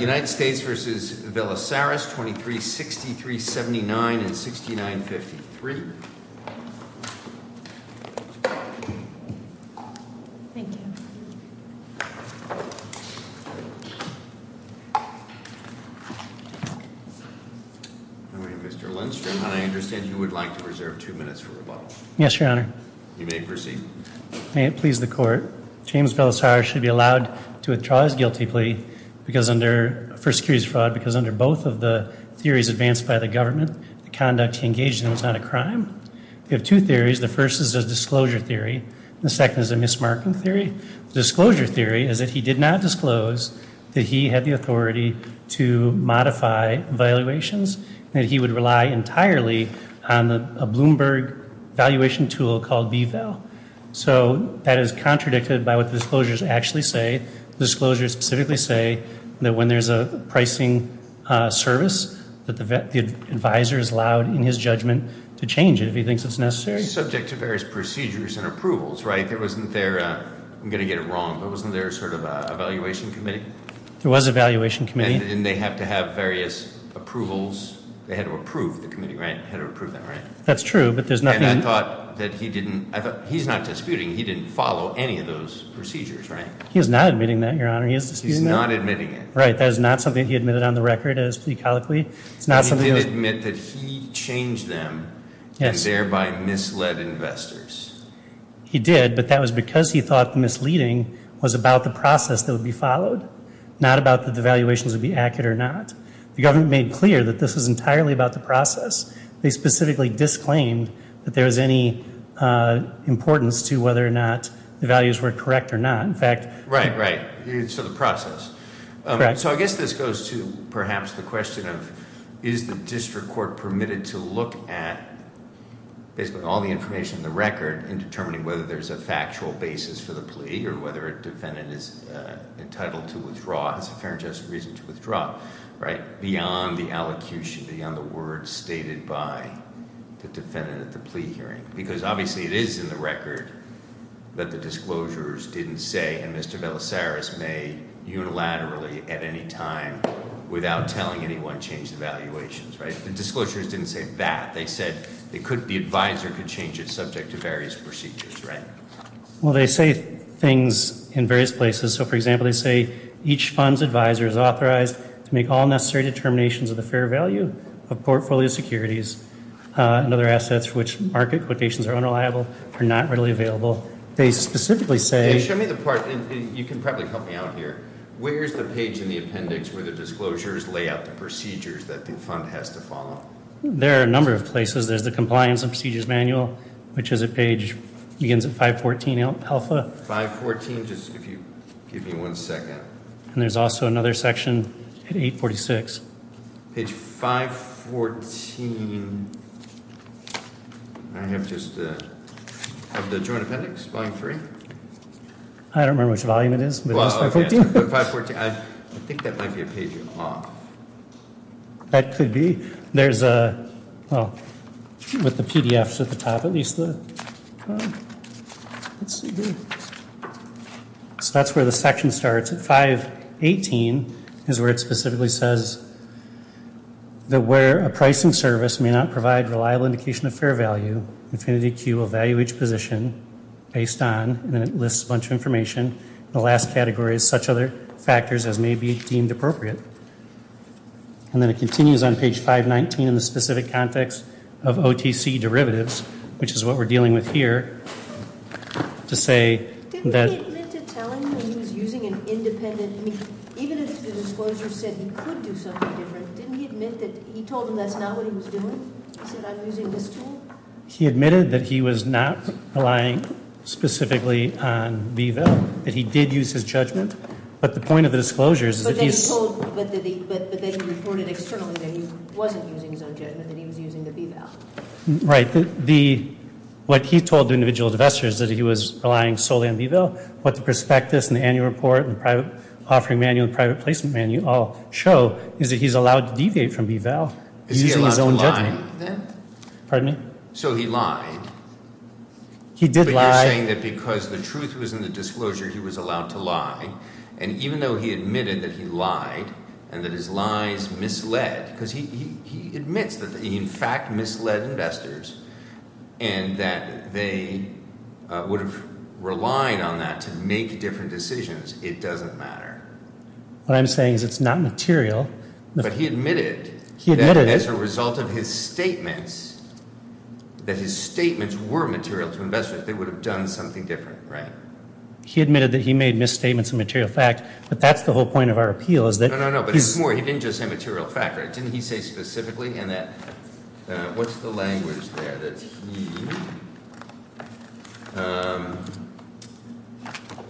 United States v. Velissaris, 2363, 79, and 6953. Mr. Lindstrom, I understand you would like to reserve two minutes for rebuttal. Yes, Your Honor. You may proceed. May it please the Court. James Velissaris should be allowed to withdraw his guilty plea for securities fraud because under both of the theories advanced by the government, the conduct he engaged in was not a crime. We have two theories. The first is a disclosure theory. The second is a mismarking theory. The disclosure theory is that he did not disclose that he had the authority to modify valuations and that he would rely entirely on a Bloomberg valuation tool called VVAL. So that is contradicted by what the disclosures actually say. The disclosures specifically say that when there's a pricing service, that the advisor is allowed, in his judgment, to change it if he thinks it's necessary. Subject to various procedures and approvals, right? There wasn't their, I'm going to get it wrong, but wasn't there sort of an evaluation committee? There was an evaluation committee. And didn't they have to have various approvals? They had to approve the committee, right? Had to approve them, right? That's true, but there's nothing. And I thought that he didn't, he's not disputing, he didn't follow any of those procedures, right? He is not admitting that, Your Honor. He is disputing that. He's not admitting it. Right. That is not something that he admitted on the record as plecolically. He did admit that he changed them and thereby misled investors. He did, but that was because he thought misleading was about the process that would be followed, not about the valuations would be accurate or not. The government made clear that this was entirely about the process. They specifically disclaimed that there was any importance to whether or not the values were correct or not. In fact- Right, right. So the process. Right. So I guess this goes to perhaps the question of is the district court permitted to look at basically all the information in the record in determining whether there's a factual basis for the plea or whether a defendant is entitled to withdraw, has a fair and just reason to withdraw, right? Beyond the allocution, beyond the words stated by the defendant at the plea hearing. Because obviously it is in the record that the disclosures didn't say, and Mr. Belisarius made unilaterally at any time without telling anyone change the valuations, right? The disclosures didn't say that. They said the advisor could change it subject to various procedures, right? Well, they say things in various places. So, for example, they say each fund's advisor is authorized to make all necessary determinations of the fair value of portfolio securities and other assets for which market quotations are unreliable or not readily available. They specifically say- Okay, show me the part, and you can probably help me out here. Where's the page in the appendix where the disclosures lay out the procedures that the fund has to follow? There are a number of places. There's the compliance and procedures manual, which is a page, begins at 514 alpha. 514, just if you give me one second. And there's also another section at 846. Page 514. I have just the joint appendix, volume three. I don't remember which volume it is, but it's 514. I think that might be a page off. That could be. Well, with the PDFs at the top, at least. So that's where the section starts. 518 is where it specifically says that where a pricing service may not provide reliable indication of fair value, InfinityQ will value each position based on, and it lists a bunch of information. The last category is such other factors as may be deemed appropriate. And then it continues on page 519 in the specific context of OTC derivatives, which is what we're dealing with here, to say that. Didn't he admit to telling him he was using an independent, even if the disclosure said he could do something different, didn't he admit that he told him that's not what he was doing? He said I'm using this tool? He admitted that he was not relying specifically on VVIP, that he did use his judgment. But the point of the disclosures is that he's. But then he reported externally that he wasn't using his own judgment, that he was using the VVAL. Right. What he told the individual investors is that he was relying solely on VVAL. What the prospectus and the annual report and the offering manual and private placement manual all show is that he's allowed to deviate from VVAL using his own judgment. Pardon me? So he lied? He did lie. You're saying that because the truth was in the disclosure, he was allowed to lie. And even though he admitted that he lied and that his lies misled, because he admits that he in fact misled investors and that they would have relied on that to make different decisions, it doesn't matter. What I'm saying is it's not material. But he admitted. He admitted it. That his statements were material to investors. They would have done something different. Right. He admitted that he made misstatements of material fact. But that's the whole point of our appeal is that. No, no, no. But it's more. He didn't just say material fact. Didn't he say specifically in that? What's the language there? That he.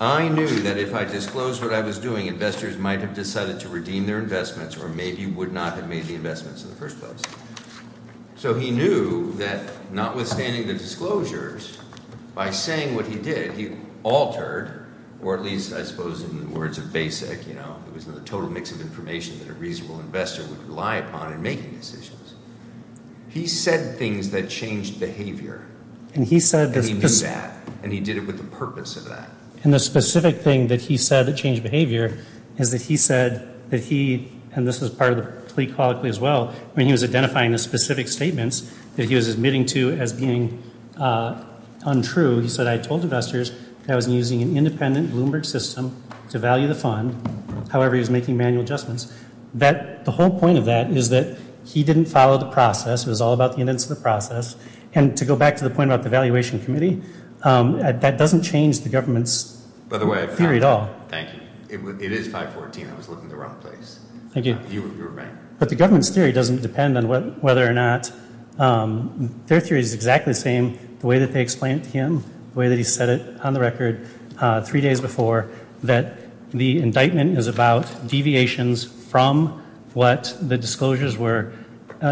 I knew that if I disclosed what I was doing, investors might have decided to redeem their investments or maybe would not have made the investments in the first place. So he knew that notwithstanding the disclosures by saying what he did, he altered or at least I suppose in the words of basic. You know, it was a total mix of information that a reasonable investor would rely upon in making decisions. He said things that changed behavior. And he said that he knew that. And he did it with the purpose of that. And the specific thing that he said that changed behavior is that he said that he. And this is part of the plea call as well. I mean, he was identifying the specific statements that he was admitting to as being untrue. He said, I told investors that I was using an independent Bloomberg system to value the fund. However, he was making manual adjustments that the whole point of that is that he didn't follow the process. It was all about the events of the process. And to go back to the point about the valuation committee, that doesn't change the government's theory at all. Thank you. It is 514. I was looking at the wrong place. Thank you. You were right. But the government's theory doesn't depend on whether or not their theory is exactly the same. The way that they explained it to him, the way that he said it on the record three days before, that the indictment is about deviations from what the disclosures were,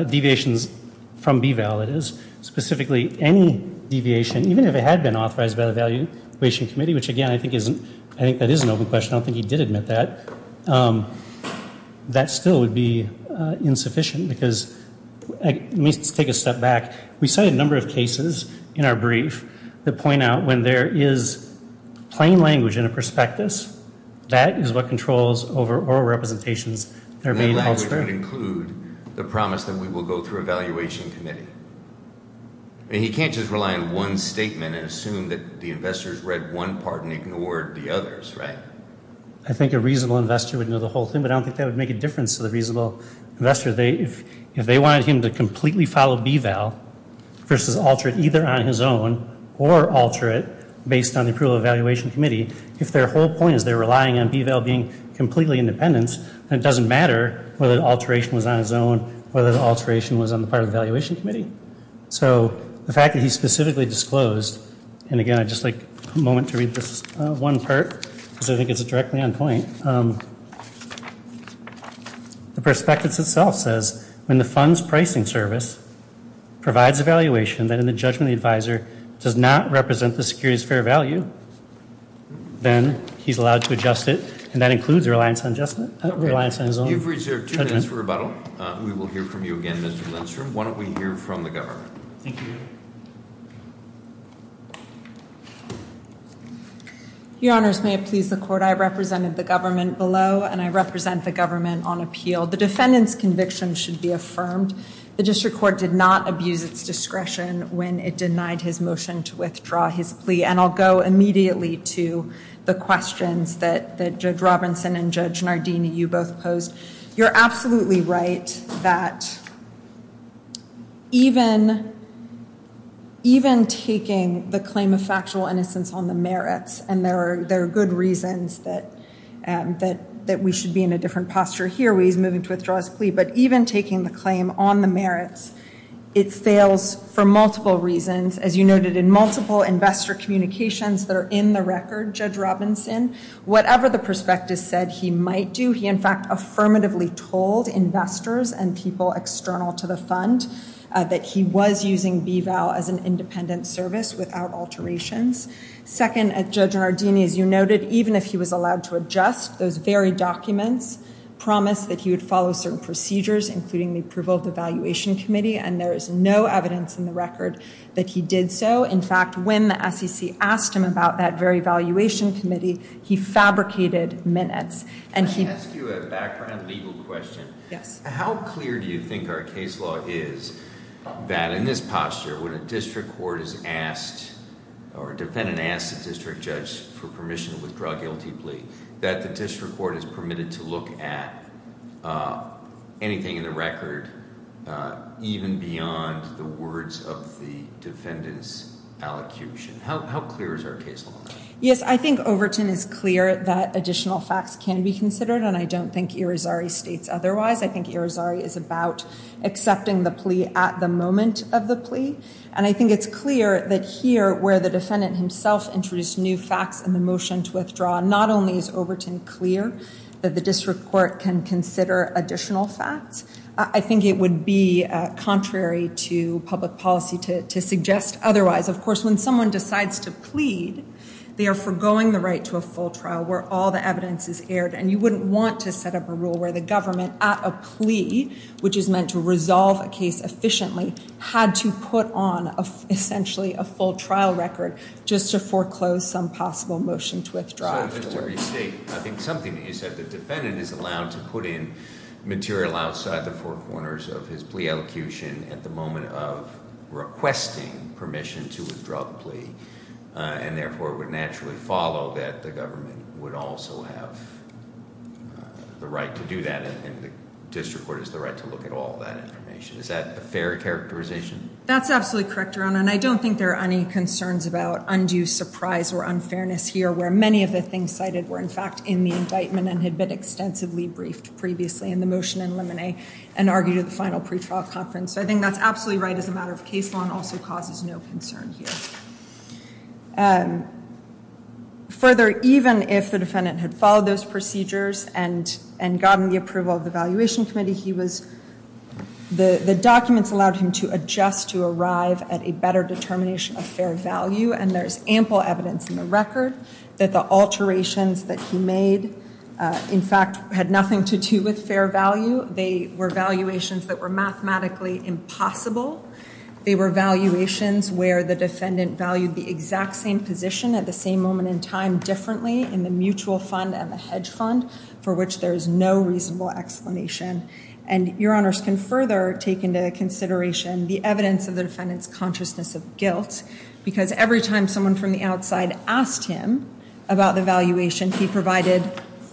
deviations from BVAL. It is specifically any deviation, even if it had been authorized by the valuation committee, which, again, I think isn't. I think that is an open question. I don't think he did admit that. That still would be insufficient because. Let me take a step back. We cited a number of cases in our brief that point out when there is plain language in a prospectus, that is what controls over oral representations. That language would include the promise that we will go through a valuation committee. And he can't just rely on one statement and assume that the investors read one part and ignored the others, right? I think a reasonable investor would know the whole thing, but I don't think that would make a difference to the reasonable investor. If they wanted him to completely follow BVAL versus alter it either on his own or alter it based on the approval of the valuation committee, if their whole point is they're relying on BVAL being completely independent, then it doesn't matter whether the alteration was on his own, whether the alteration was on the part of the valuation committee. So the fact that he specifically disclosed, and, again, I'd just like a moment to read this one part because I think it's directly on point. The prospectus itself says when the fund's pricing service provides a valuation that in the judgment of the advisor does not represent the security's fair value, then he's allowed to adjust it, and that includes a reliance on his own judgment. You've reserved two minutes for rebuttal. We will hear from you again, Mr. Lindstrom. Why don't we hear from the governor? Thank you. Your Honors, may it please the Court. I represent the government below, and I represent the government on appeal. The defendant's conviction should be affirmed. The district court did not abuse its discretion when it denied his motion to withdraw his plea, and I'll go immediately to the questions that Judge Robinson and Judge Nardini, you both posed. You're absolutely right that even taking the claim of factual innocence on the merits, and there are good reasons that we should be in a different posture here where he's moving to withdraw his plea, but even taking the claim on the merits, it fails for multiple reasons. As you noted, in multiple investor communications that are in the record, Judge Robinson, whatever the prospectus said he might do, he in fact affirmatively told investors and people external to the fund that he was using BVAL as an independent service without alterations. Second, Judge Nardini, as you noted, even if he was allowed to adjust, those very documents promised that he would follow certain procedures, including the approval of the valuation committee, and there is no evidence in the record that he did so. In fact, when the SEC asked him about that very valuation committee, he fabricated minutes. And he- Can I ask you a background legal question? Yes. How clear do you think our case law is that in this posture, when a district court is asked, or a defendant asks a district judge for permission to withdraw a guilty plea, that the district court is permitted to look at anything in the record, even beyond the words of the defendant's allocution? How clear is our case law? Yes, I think Overton is clear that additional facts can be considered, and I don't think Irizarry states otherwise. I think Irizarry is about accepting the plea at the moment of the plea, and I think it's clear that here, where the defendant himself introduced new facts in the motion to withdraw, not only is Overton clear that the district court can consider additional facts, I think it would be contrary to public policy to suggest otherwise. Of course, when someone decides to plead, they are forgoing the right to a full trial where all the evidence is aired, and you wouldn't want to set up a rule where the government at a plea, which is meant to resolve a case efficiently, had to put on essentially a full trial record just to foreclose some possible motion to withdraw afterwards. I think something that you said, the defendant is allowed to put in material outside the four corners of his plea allocution at the moment of requesting permission to withdraw the plea, and therefore would naturally follow that the government would also have the right to do that, and the district court has the right to look at all that information. Is that a fair characterization? That's absolutely correct, Your Honor, and I don't think there are any concerns about undue surprise or unfairness here, where many of the things cited were in fact in the indictment and had been extensively briefed previously in the motion in limine and argued at the final pretrial conference, so I think that's absolutely right as a matter of case law and also causes no concern here. Further, even if the defendant had followed those procedures and gotten the approval of the Valuation Committee, the documents allowed him to adjust to arrive at a better determination of fair value, and there's ample evidence in the record that the alterations that he made, in fact, had nothing to do with fair value. They were valuations that were mathematically impossible. They were valuations where the defendant valued the exact same position at the same moment in time differently in the mutual fund and the hedge fund for which there is no reasonable explanation, and Your Honors can further take into consideration the evidence of the defendant's consciousness of guilt because every time someone from the outside asked him about the valuation, he provided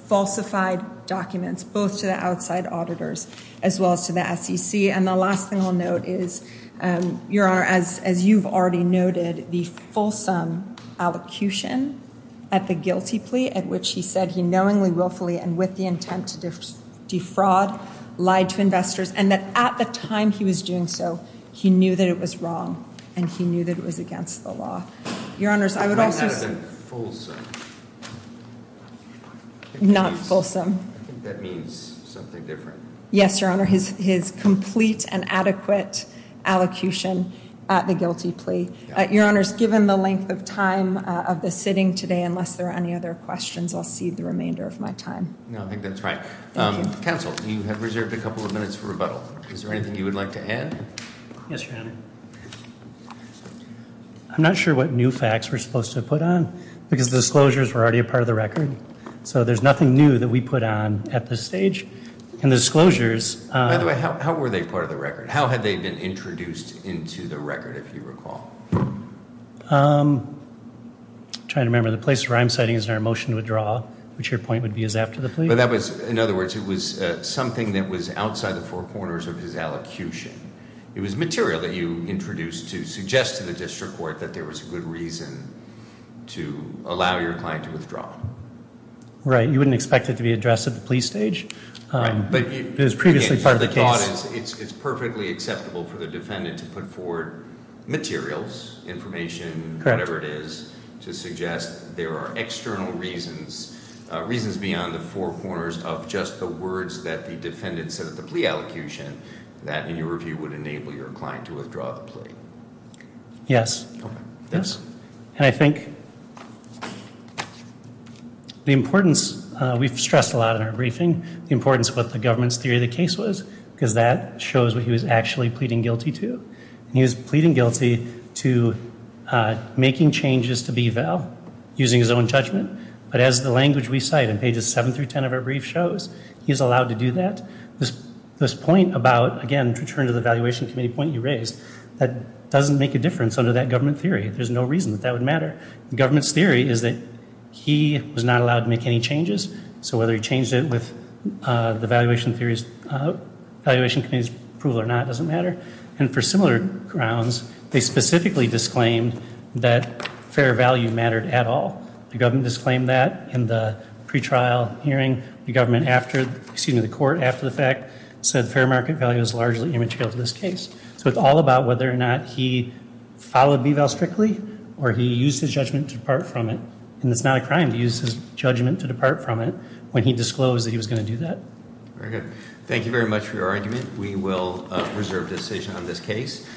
falsified documents both to the outside auditors as well as to the SEC, and the last thing I'll note is, Your Honor, as you've already noted, the fulsome allocution at the guilty plea at which he said he knowingly, willfully, and with the intent to defraud, lied to investors, and that at the time he was doing so, he knew that it was wrong and he knew that it was against the law. Your Honors, I would also say... It might not have been fulsome. Not fulsome. I think that means something different. Yes, Your Honor, his complete and adequate allocution at the guilty plea. Your Honors, given the length of time of the sitting today, unless there are any other questions, I'll cede the remainder of my time. No, I think that's right. Thank you. Counsel, you have reserved a couple of minutes for rebuttal. Is there anything you would like to add? Yes, Your Honor. I'm not sure what new facts we're supposed to put on because the disclosures were already a part of the record, so there's nothing new that we put on at this stage. And the disclosures... By the way, how were they part of the record? How had they been introduced into the record, if you recall? I'm trying to remember. The place where I'm sitting is in our motion to withdraw, which your point would be is after the plea. In other words, it was something that was outside the four corners of his allocution. It was material that you introduced to suggest to the district court that there was a good reason to allow your client to withdraw. You wouldn't expect it to be addressed at the plea stage. Right. It was previously part of the case. The thought is it's perfectly acceptable for the defendant to put forward materials, information, whatever it is, to suggest there are external reasons, reasons beyond the four corners of just the words that the defendant said at the plea allocation and that, in your review, would enable your client to withdraw the plea. Yes. Yes. And I think the importance... We've stressed a lot in our briefing the importance of what the government's theory of the case was because that shows what he was actually pleading guilty to. He was pleading guilty to making changes to B-Val using his own judgment, but as the language we cite in pages 7 through 10 of our brief shows, he's allowed to do that. This point about, again, to return to the Valuation Committee point you raised, that doesn't make a difference under that government theory. There's no reason that that would matter. The government's theory is that he was not allowed to make any changes, so whether he changed it with the Valuation Committee's approval or not doesn't matter. And for similar grounds, they specifically disclaimed that fair value mattered at all. The government disclaimed that in the pretrial hearing. The court, after the fact, said fair market value is largely immaterial to this case. So it's all about whether or not he followed B-Val strictly or he used his judgment to depart from it. And it's not a crime to use his judgment to depart from it when he disclosed that he was going to do that. Very good. Thank you very much for your argument. We will reserve decision on this case.